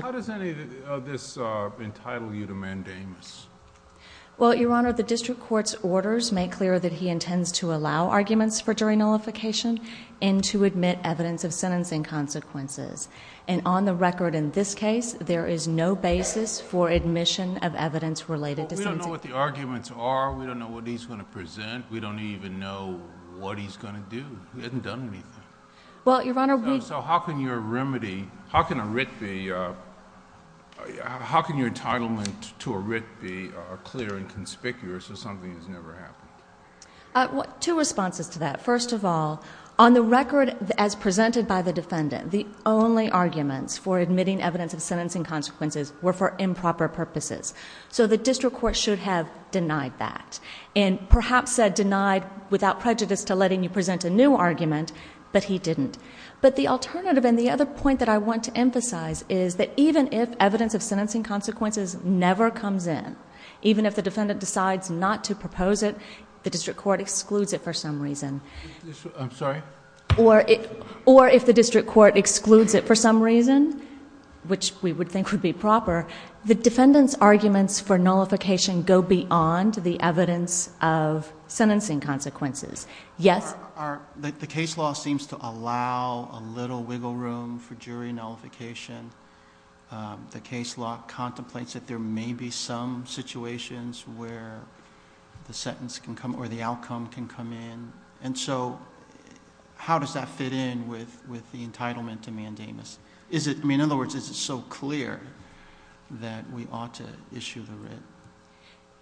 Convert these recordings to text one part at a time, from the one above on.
How does any of this entitle you to mandamus? Well, we don't know what the arguments are. We don't know what he's going to present. We don't even know what he's going to do. He hasn't done anything. How can your entitlement to a writ be clear and conspicuous of something that's never happened? The argument is that even if evidence of sentencing consequences never comes in, even if the defendant decides not to propose it, the district court excludes it for some reason. I'm sorry? Or if the district court excludes it for some reason, which we would think would be proper, the defendant's arguments for nullification go beyond the evidence of sentencing consequences. The case law seems to allow a little wiggle room for jury nullification. The case law contemplates that there may be some situations where the outcome can come in. How does that fit in with the entitlement to mandamus? In other words, is it so clear that we ought to issue the writ?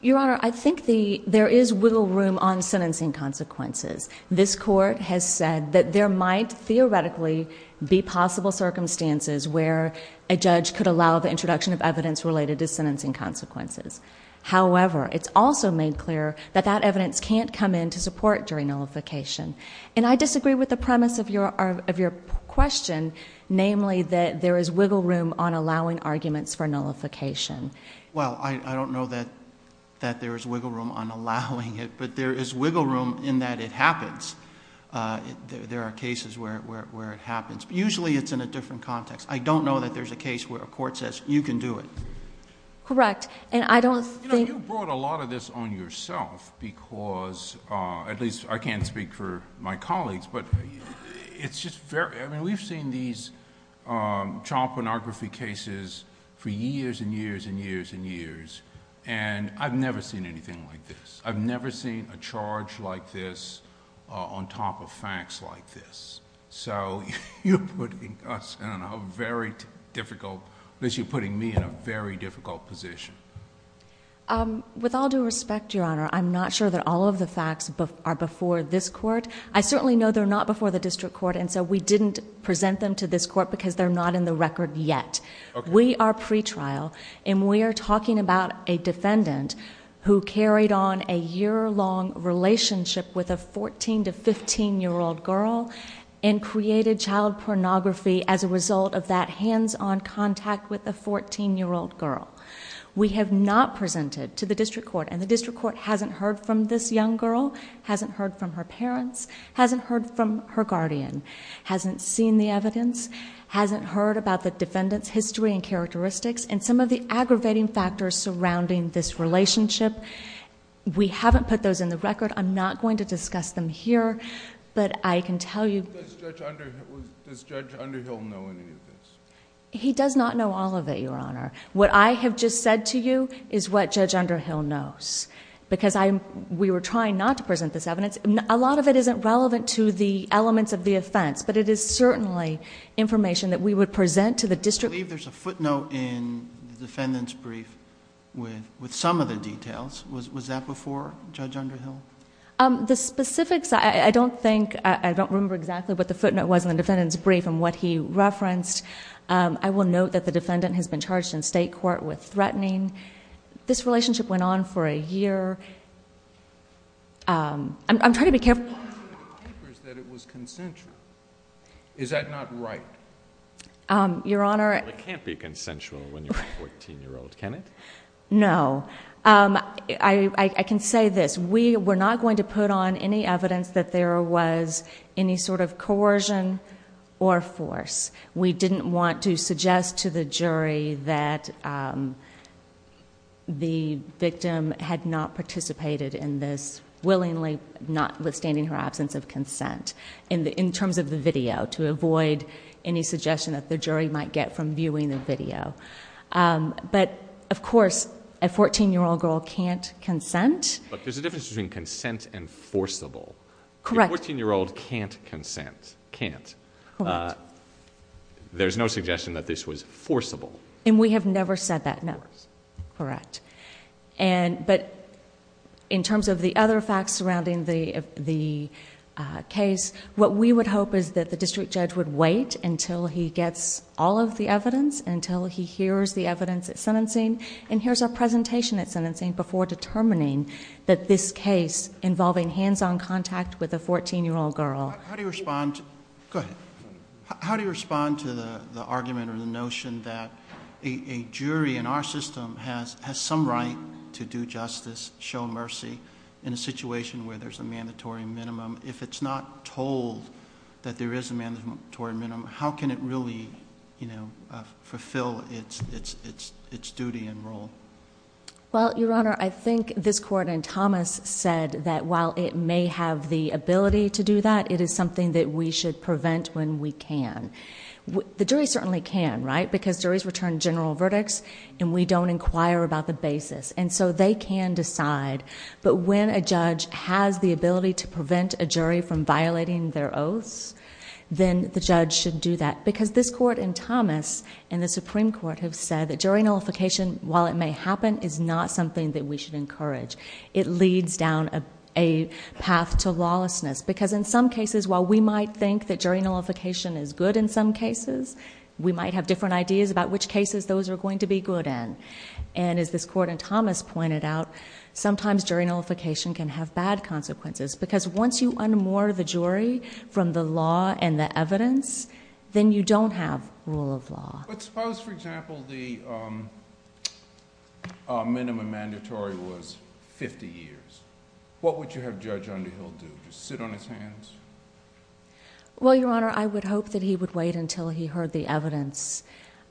Your Honor, I think there is wiggle room on sentencing consequences. This court has said that there might theoretically be possible circumstances where a judge could allow the introduction of evidence related to sentencing consequences. However, it's also made clear that that evidence can't come in to support jury nullification. And I disagree with the premise of your question, namely that there is wiggle room on allowing arguments for nullification. Well, I don't know that there is wiggle room on allowing it, but there is wiggle room in that it happens. There are cases where it happens. Usually it's in a different context. I don't know that there's a case where a court says, you can do it. Correct. And I don't think... And I've never seen anything like this. I've never seen a charge like this on top of facts like this. So you're putting us in a very difficult... at least you're putting me in a very difficult position. With all due respect, Your Honor, I'm not sure that all of the facts are before this court. I certainly know they're not before the district court, and so we didn't present them to this court because they're not in the record yet. We are pretrial, and we are talking about a defendant who carried on a year-long relationship with a 14 to 15-year-old girl and created child pornography as a result of that hands-on contact with a 14-year-old girl. We have not presented to the district court, and the district court hasn't heard from this young girl, hasn't heard from her parents, hasn't heard from her guardian, hasn't seen the evidence, hasn't heard about the defendant's history and characteristics, and some of the aggravating factors surrounding this relationship. We haven't put those in the record. I'm not going to discuss them here, but I can tell you... Does Judge Underhill know any of this? He does not know all of it, Your Honor. What I have just said to you is what Judge Underhill knows. Because we were trying not to present this evidence. A lot of it isn't relevant to the elements of the offense, but it is certainly information that we would present to the district... I believe there's a footnote in the defendant's brief with some of the details. Was that before Judge Underhill? The specifics, I don't think... I don't remember exactly what the footnote was in the defendant's brief and what he referenced. I will note that the defendant has been charged in state court with threatening. This relationship went on for a year. I'm trying to be careful...... that it was consensual. Is that not right? Your Honor... It can't be consensual when you're a 14-year-old, can it? No. I can say this. We were not going to put on any evidence that there was any sort of coercion or force. We didn't want to suggest to the jury that the victim had not participated in this willingly, notwithstanding her absence of consent. In terms of the video, to avoid any suggestion that the jury might get from viewing the video. But, of course, a 14-year-old girl can't consent. But, there's a difference between consent and forcible. Correct. A 14-year-old can't consent. Can't. Correct. There's no suggestion that this was forcible. And we have never said that, no. Correct. But, in terms of the other facts surrounding the case, what we would hope is that the district judge would wait until he gets all of the evidence, until he hears the evidence at sentencing, and hears our presentation at sentencing, before determining that this case involving hands-on contact with a 14-year-old girl... How do you respond to... Go ahead. How do you respond to the argument or the notion that a jury in our system has some right to do justice, show mercy, in a situation where there's a mandatory minimum? If it's not told that there is a mandatory minimum, how can it really fulfill its duty and role? Well, Your Honor, I think this Court and Thomas said that while it may have the ability to do that, it is something that we should prevent when we can. The jury certainly can, right? Because, juries return general verdicts and we don't inquire about the basis. And so, they can decide. But, when a judge has the ability to prevent a jury from violating their oaths, then the judge should do that. Because, this Court and Thomas and the Supreme Court have said that jury nullification, while it may happen, is not something that we should encourage. It leads down a path to lawlessness. Because, in some cases, while we might think that jury nullification is good in some cases, we might have different ideas about which cases those are going to be good in. And, as this Court and Thomas pointed out, sometimes jury nullification can have bad consequences. Because, once you unmoor the jury from the law and the evidence, then you don't have rule of law. But, suppose, for example, the minimum mandatory was 50 years. What would you have Judge Underhill do? Just sit on his hands? Well, Your Honor, I would hope that he would wait until he heard the evidence.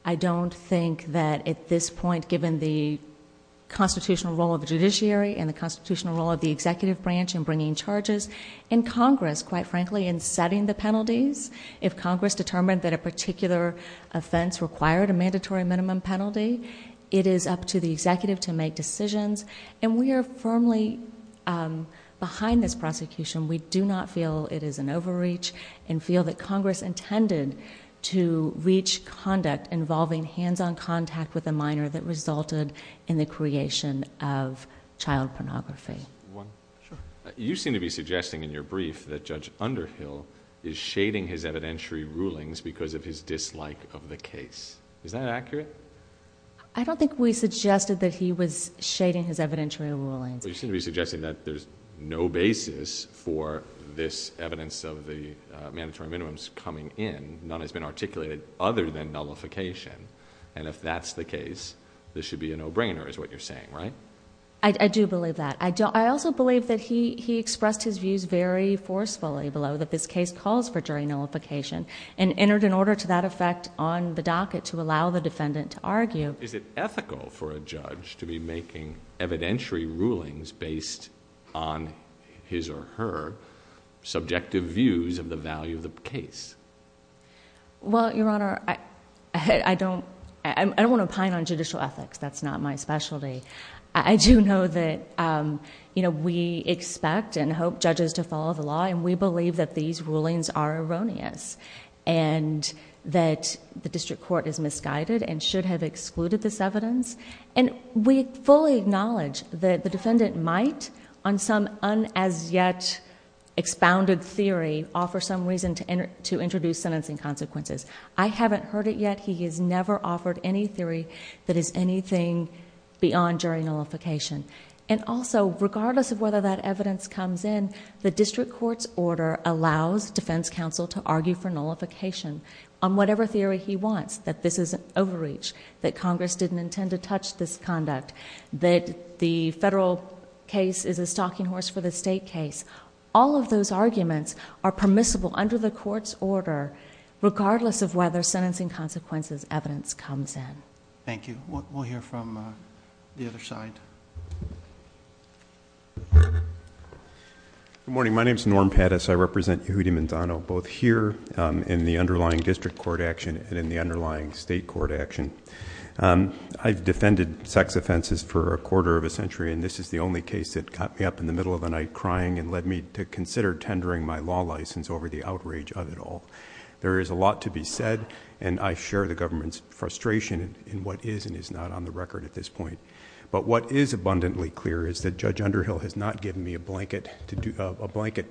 I don't think that, at this point, given the constitutional role of the judiciary and the constitutional role of the executive branch in bringing charges, and Congress, quite frankly, in setting the penalties, if Congress determined that a particular offense required a mandatory minimum penalty, it is up to the executive to make decisions. And, we are firmly behind this prosecution. We do not feel it is an overreach, and feel that Congress intended to reach conduct involving hands-on contact with a minor that resulted in the creation of child pornography. You seem to be suggesting in your brief that Judge Underhill is shading his evidentiary rulings because of his dislike of the case. Is that accurate? I don't think we suggested that he was shading his evidentiary rulings. You seem to be suggesting that there's no basis for this evidence of the mandatory minimums coming in. None has been articulated other than nullification. And, if that's the case, this should be a no-brainer, is what you're saying, right? I do believe that. I also believe that he expressed his views very forcefully below that this case calls for jury nullification, and entered an order to that effect on the docket to allow the defendant to argue. Is it ethical for a judge to be making evidentiary rulings based on his or her subjective views of the value of the case? Well, Your Honor, I don't want to pine on judicial ethics. That's not my specialty. I do know that we expect and hope judges to follow the law, and we believe that these rulings are erroneous, and that the district court is misguided and should have excluded this evidence. And we fully acknowledge that the defendant might, on some un-as-yet expounded theory, offer some reason to introduce sentencing consequences. I haven't heard it yet. He has never offered any theory that is anything beyond jury nullification. And also, regardless of whether that evidence comes in, the district court's order allows defense counsel to argue for nullification on whatever theory he wants, that this is an overreach, that Congress didn't intend to touch this conduct, that the federal case is a stalking horse for the state case. All of those arguments are permissible under the court's order, regardless of whether sentencing consequences evidence comes in. Thank you. We'll hear from the other side. Good morning. My name is Norm Pattis. I represent Yehudi Manzano, both here in the underlying district court action and in the underlying state court action. I've defended sex offenses for a quarter of a century, and this is the only case that got me up in the middle of the night crying and led me to consider tendering my law license over the outrage of it all. There is a lot to be said, and I share the government's frustration in what is and is not on the record at this point. But what is abundantly clear is that Judge Underhill has not given me a blanket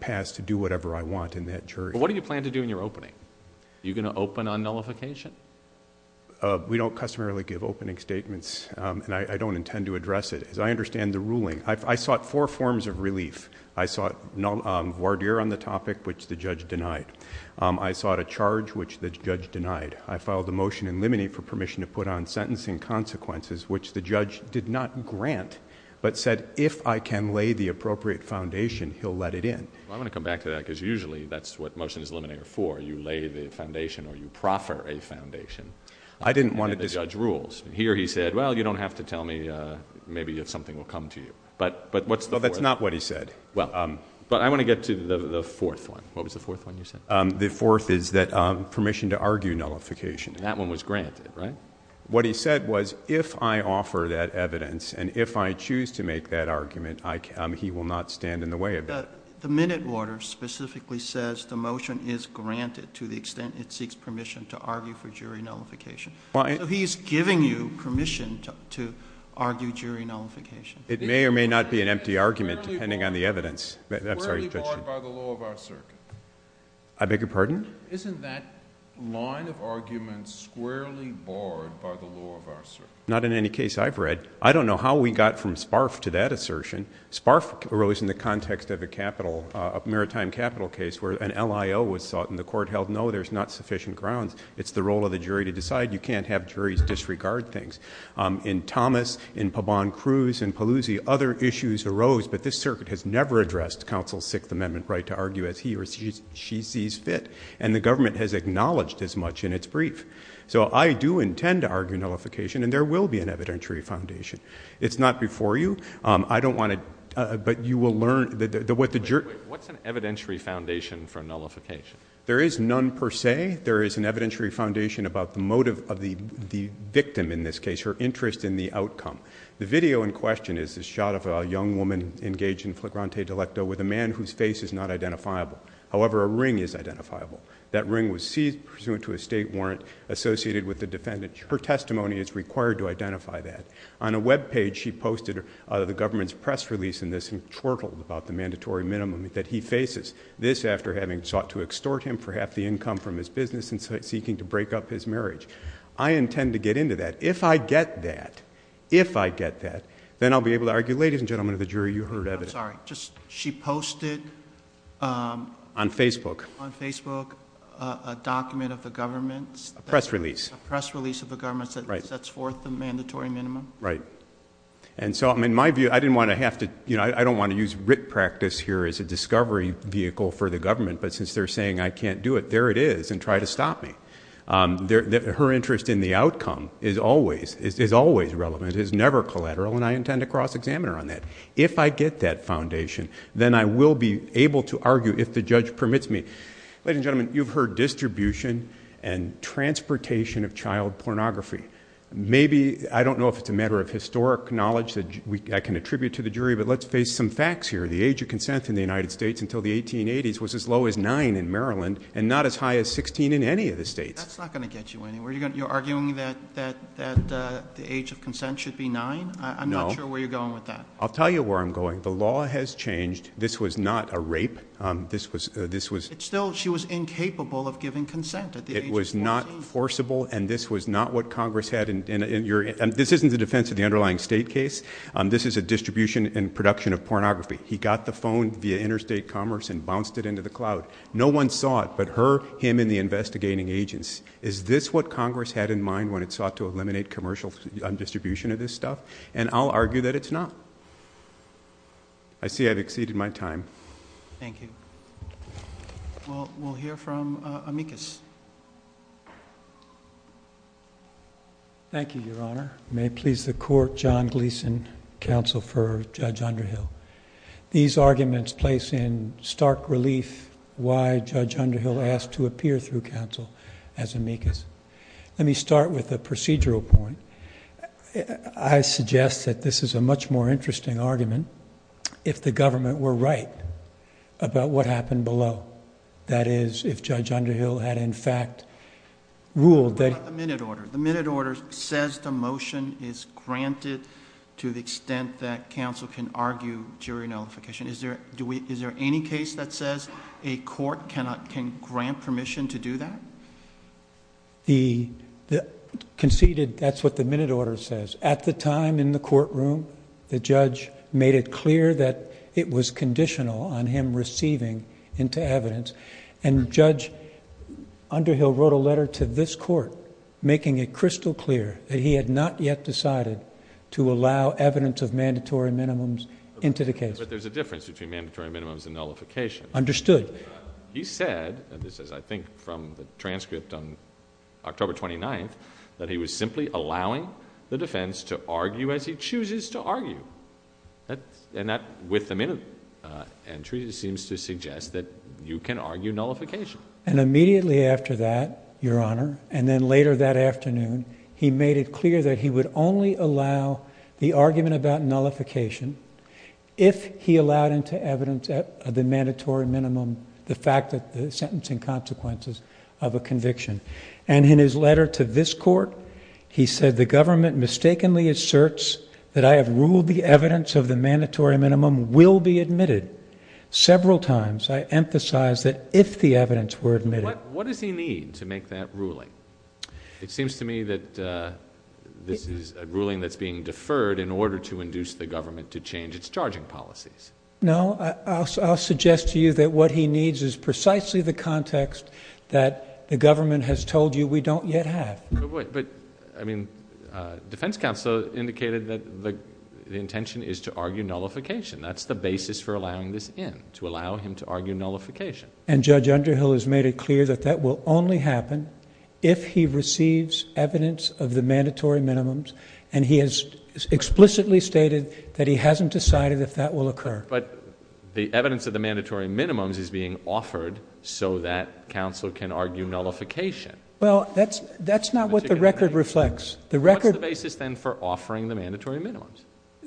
pass to do whatever I want in that jury. What do you plan to do in your opening? Are you going to open on nullification? We don't customarily give opening statements, and I don't intend to address it. As I understand the ruling, I sought four forms of relief. I sought voir dire on the topic, which the judge denied. I sought a charge, which the judge denied. I filed a motion in limine for permission to put on sentencing consequences, which the judge did not grant, but said if I can lay the appropriate foundation, he'll let it in. I want to come back to that because usually that's what motion is limine for. You lay the foundation or you proffer a foundation. I didn't want to... And the judge rules. Here he said, well, you don't have to tell me maybe if something will come to you. Well, that's not what he said. But I want to get to the fourth one. What was the fourth one you said? The fourth is that permission to argue nullification. That one was granted, right? What he said was if I offer that evidence and if I choose to make that argument, he will not stand in the way of it. The minute order specifically says the motion is granted to the extent it seeks permission to argue for jury nullification. So he's giving you permission to argue jury nullification. It may or may not be an empty argument depending on the evidence. Squarely barred by the law of our circuit. I beg your pardon? Isn't that line of argument squarely barred by the law of our circuit? Not in any case I've read. I don't know how we got from Sparf to that assertion. Sparf arose in the context of a capital, a maritime capital case where an LIO was sought and the court held, no, there's not sufficient grounds. It's the role of the jury to decide. You can't have juries disregard things. In Thomas, in Paban Cruz, in Paluzzi, other issues arose, but this circuit has never addressed counsel's Sixth Amendment right to argue as he or she sees fit. And the government has acknowledged as much in its brief. So I do intend to argue nullification, and there will be an evidentiary foundation. It's not before you. I don't want to, but you will learn. What's an evidentiary foundation for nullification? There is none per se. Today there is an evidentiary foundation about the motive of the victim in this case, her interest in the outcome. The video in question is a shot of a young woman engaged in flagrante delecto with a man whose face is not identifiable. However, a ring is identifiable. That ring was seized pursuant to a state warrant associated with the defendant. Her testimony is required to identify that. On a web page she posted the government's press release in this and twirled about the mandatory minimum that he faces. This after having sought to extort him for half the income from his business and seeking to break up his marriage. I intend to get into that. If I get that, if I get that, then I'll be able to argue. Ladies and gentlemen of the jury, you heard of it. I'm sorry. She posted. On Facebook. On Facebook a document of the government's. A press release. A press release of the government's that sets forth the mandatory minimum. Right. And so in my view, I didn't want to have to, you know, I don't want to use writ practice here as a discovery vehicle for the government. But since they're saying I can't do it, there it is. And try to stop me. Her interest in the outcome is always, is always relevant. It's never collateral. And I intend to cross-examine her on that. If I get that foundation, then I will be able to argue if the judge permits me. Ladies and gentlemen, you've heard distribution and transportation of child pornography. Maybe, I don't know if it's a matter of historic knowledge that I can attribute to the jury, but let's face some facts here. The age of consent in the United States until the 1880s was as low as nine in Maryland and not as high as 16 in any of the states. That's not going to get you anywhere. You're arguing that the age of consent should be nine? No. I'm not sure where you're going with that. I'll tell you where I'm going. The law has changed. This was not a rape. This was. It still, she was incapable of giving consent at the age of 14. This was not forcible and this was not what Congress had in your. This isn't the defense of the underlying state case. This is a distribution and production of pornography. He got the phone via interstate commerce and bounced it into the cloud. No one saw it but her, him, and the investigating agents. Is this what Congress had in mind when it sought to eliminate commercial distribution of this stuff? And I'll argue that it's not. I see I've exceeded my time. Thank you. We'll hear from Amicus. Thank you, Your Honor. May it please the court, John Gleeson, counsel for Judge Underhill. These arguments place in stark relief why Judge Underhill asked to appear through counsel as Amicus. Let me start with a procedural point. I suggest that this is a much more interesting argument if the government were right about what happened below. That is, if Judge Underhill had in fact ruled that... What about the minute order? The minute order says the motion is granted to the extent that counsel can argue jury notification. Is there any case that says a court can grant permission to do that? The conceded... that's what the minute order says. At the time in the courtroom, the judge made it clear that it was conditional on him receiving into evidence. Judge Underhill wrote a letter to this court making it crystal clear that he had not yet decided to allow evidence of mandatory minimums into the case. But there's a difference between mandatory minimums and nullification. Understood. He said, and this is I think from the transcript on October 29th, that he was simply allowing the defense to argue as he chooses to argue. And that with the minute entry seems to suggest that you can argue nullification. And immediately after that, Your Honor, and then later that afternoon, he made it clear that he would only allow the argument about nullification if he allowed into evidence of the mandatory minimum the fact that the sentencing consequences of a conviction. And in his letter to this court, he said, the government mistakenly asserts that I have ruled the evidence of the mandatory minimum will be admitted. Several times I emphasized that if the evidence were admitted... What does he need to make that ruling? It seems to me that this is a ruling that's being deferred in order to induce the government to change its charging policies. No, I'll suggest to you that what he needs is precisely the context that the government has told you we don't yet have. But, I mean, defense counsel indicated that the intention is to argue nullification. That's the basis for allowing this in, to allow him to argue nullification. And Judge Underhill has made it clear that that will only happen if he receives evidence of the mandatory minimums. And he has explicitly stated that he hasn't decided if that will occur. But the evidence of the mandatory minimums is being offered so that counsel can argue nullification. Well, that's not what the record reflects. What's the basis then for offering the mandatory minimums?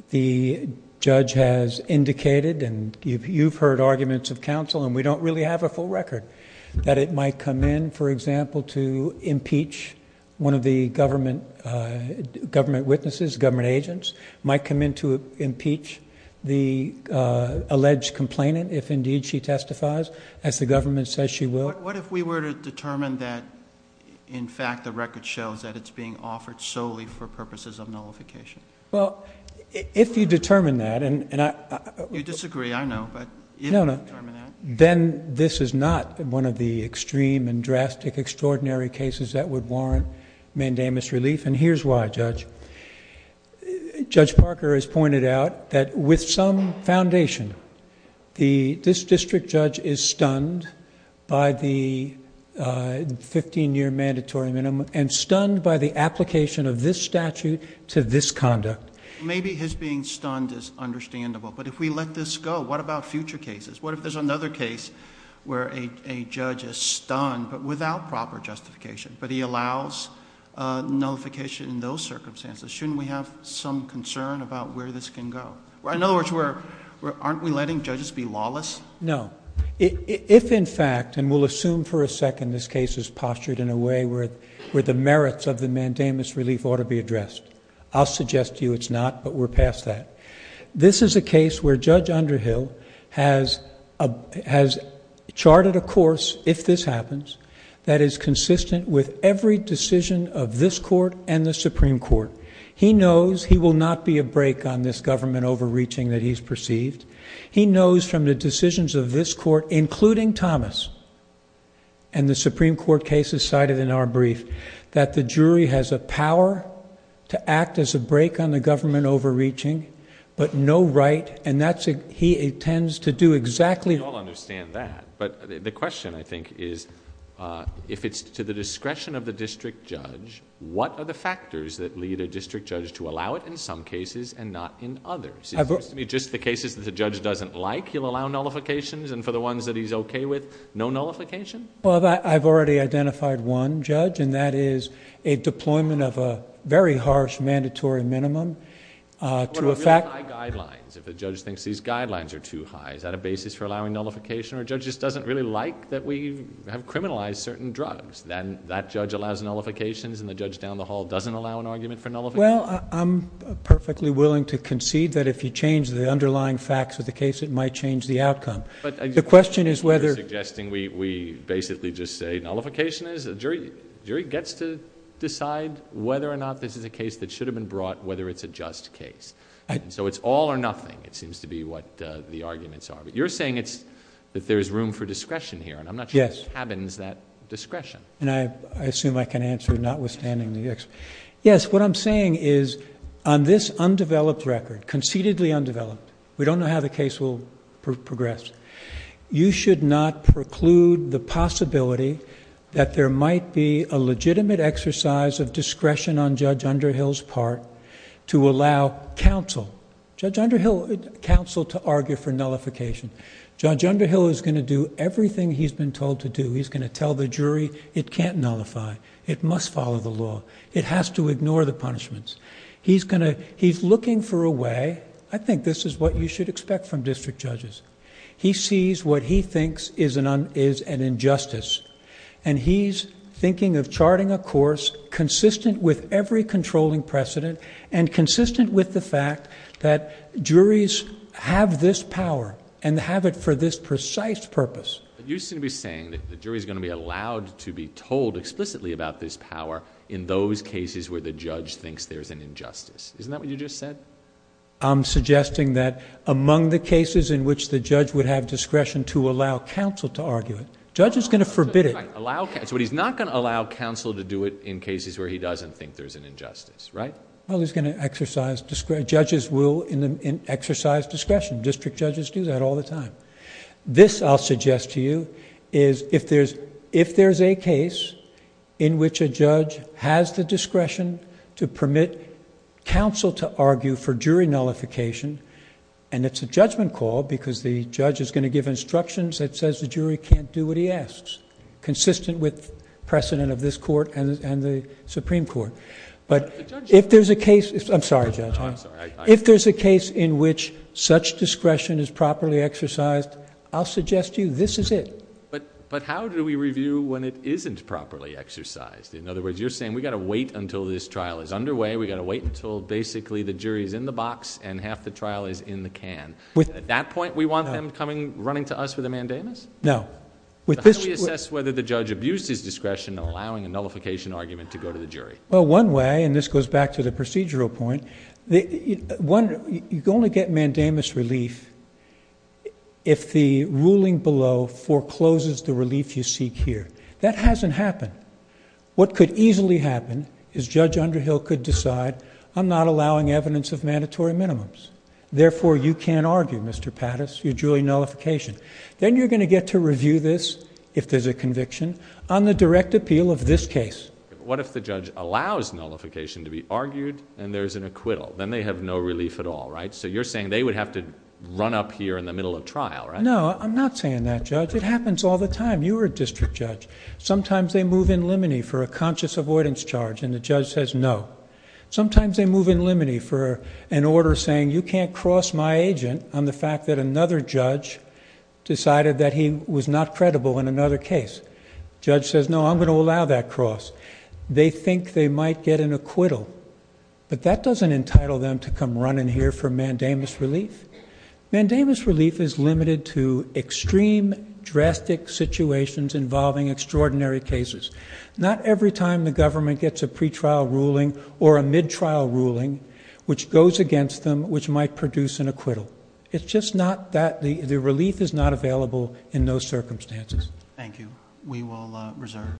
The judge has indicated, and you've heard arguments of counsel, and we don't really have a full record, that it might come in, for example, to impeach one of the government witnesses, government agents. Might come in to impeach the alleged complainant if indeed she testifies, as the government says she will. What if we were to determine that, in fact, the record shows that it's being offered solely for purposes of nullification? Well, if you determine that... You disagree, I know, but if you determine that... No, no. Then this is not one of the extreme and drastic, extraordinary cases that would warrant mandamus relief. And here's why, Judge. Judge Parker has pointed out that with some foundation, this district judge is stunned by the fifteen-year mandatory minimum and stunned by the application of this statute to this conduct. Maybe his being stunned is understandable, but if we let this go, what about future cases? What if there's another case where a judge is stunned, but without proper justification, but he allows nullification in those circumstances? Shouldn't we have some concern about where this can go? In other words, aren't we letting judges be lawless? No. If, in fact, and we'll assume for a second this case is postured in a way where the merits of the mandamus relief ought to be addressed, I'll suggest to you it's not, but we're past that. This is a case where Judge Underhill has charted a course, if this happens, that is consistent with every decision of this Court and the Supreme Court. He knows he will not be a break on this government overreaching that he's perceived. He knows from the decisions of this Court, including Thomas and the Supreme Court cases cited in our brief, that the jury has a power to act as a break on the government overreaching, but no right, and he intends to do exactly... It seems to me just the cases that the judge doesn't like, he'll allow nullifications, and for the ones that he's okay with, no nullification? Well, I've already identified one, Judge, and that is a deployment of a very harsh mandatory minimum to a fact... What about really high guidelines? If a judge thinks these guidelines are too high, is that a basis for allowing nullification, or a judge just doesn't really like that we have criminalized certain drugs? Then that judge allows nullifications, and the judge down the hall doesn't allow an argument for nullification? Well, I'm perfectly willing to concede that if you change the underlying facts of the case, it might change the outcome. The question is whether... You're suggesting we basically just say nullification is? The jury gets to decide whether or not this is a case that should have been brought, whether it's a just case. So it's all or nothing, it seems to be what the arguments are. But you're saying that there's room for discretion here, and I'm not sure this cabins that discretion. And I assume I can answer notwithstanding the... Yes, what I'm saying is on this undeveloped record, conceitedly undeveloped, we don't know how the case will progress. You should not preclude the possibility that there might be a legitimate exercise of discretion on Judge Underhill's part to allow counsel... Judge Underhill... counsel to argue for nullification. Judge Underhill is going to do everything he's been told to do. He's going to tell the jury it can't nullify. It must follow the law. It has to ignore the punishments. He's going to... he's looking for a way... I think this is what you should expect from district judges. He sees what he thinks is an injustice. And he's thinking of charting a course consistent with every controlling precedent... and consistent with the fact that juries have this power and have it for this precise purpose. You seem to be saying that the jury is going to be allowed to be told explicitly about this power in those cases where the judge thinks there's an injustice. Isn't that what you just said? I'm suggesting that among the cases in which the judge would have discretion to allow counsel to argue it... Judge is going to forbid it. Right. Allow... But he's not going to allow counsel to do it in cases where he doesn't think there's an injustice, right? Well, he's going to exercise... judges will exercise discretion. District judges do that all the time. This, I'll suggest to you, is if there's a case in which a judge has the discretion to permit counsel to argue for jury nullification... and it's a judgment call because the judge is going to give instructions that says the jury can't do what he asks... consistent with precedent of this court and the Supreme Court. But, if there's a case... I'm sorry, Judge. No, I'm sorry. If there's a case in which such discretion is properly exercised, I'll suggest to you this is it. But, how do we review when it isn't properly exercised? In other words, you're saying we've got to wait until this trial is underway. We've got to wait until basically the jury is in the box and half the trial is in the can. With... At that point, we want them coming, running to us with a mandamus? No. With this... How do we assess whether the judge abused his discretion in allowing a nullification argument to go to the jury? Well, one way... and this goes back to the procedural point... One... you can only get mandamus relief if the ruling below forecloses the relief you seek here. That hasn't happened. What could easily happen is Judge Underhill could decide, I'm not allowing evidence of mandatory minimums. Therefore, you can't argue, Mr. Patus, your jury nullification. Then, you're going to get to review this, if there's a conviction, on the direct appeal of this case. What if the judge allows nullification to be argued and there's an acquittal? Then, they have no relief at all, right? So, you're saying they would have to run up here in the middle of trial, right? No, I'm not saying that, Judge. It happens all the time. You were a district judge. Sometimes, they move in limine for a conscious avoidance charge and the judge says no. Sometimes, they move in limine for an order saying you can't cross my agent on the fact that another judge decided that he was not credible in another case. Judge says, no, I'm going to allow that cross. They think they might get an acquittal, but that doesn't entitle them to come run in here for mandamus relief. Mandamus relief is limited to extreme, drastic situations involving extraordinary cases. Not every time the government gets a pretrial ruling or a mid-trial ruling, which goes against them, which might produce an acquittal. It's just not that. The relief is not available in those circumstances. Thank you. We will reserve.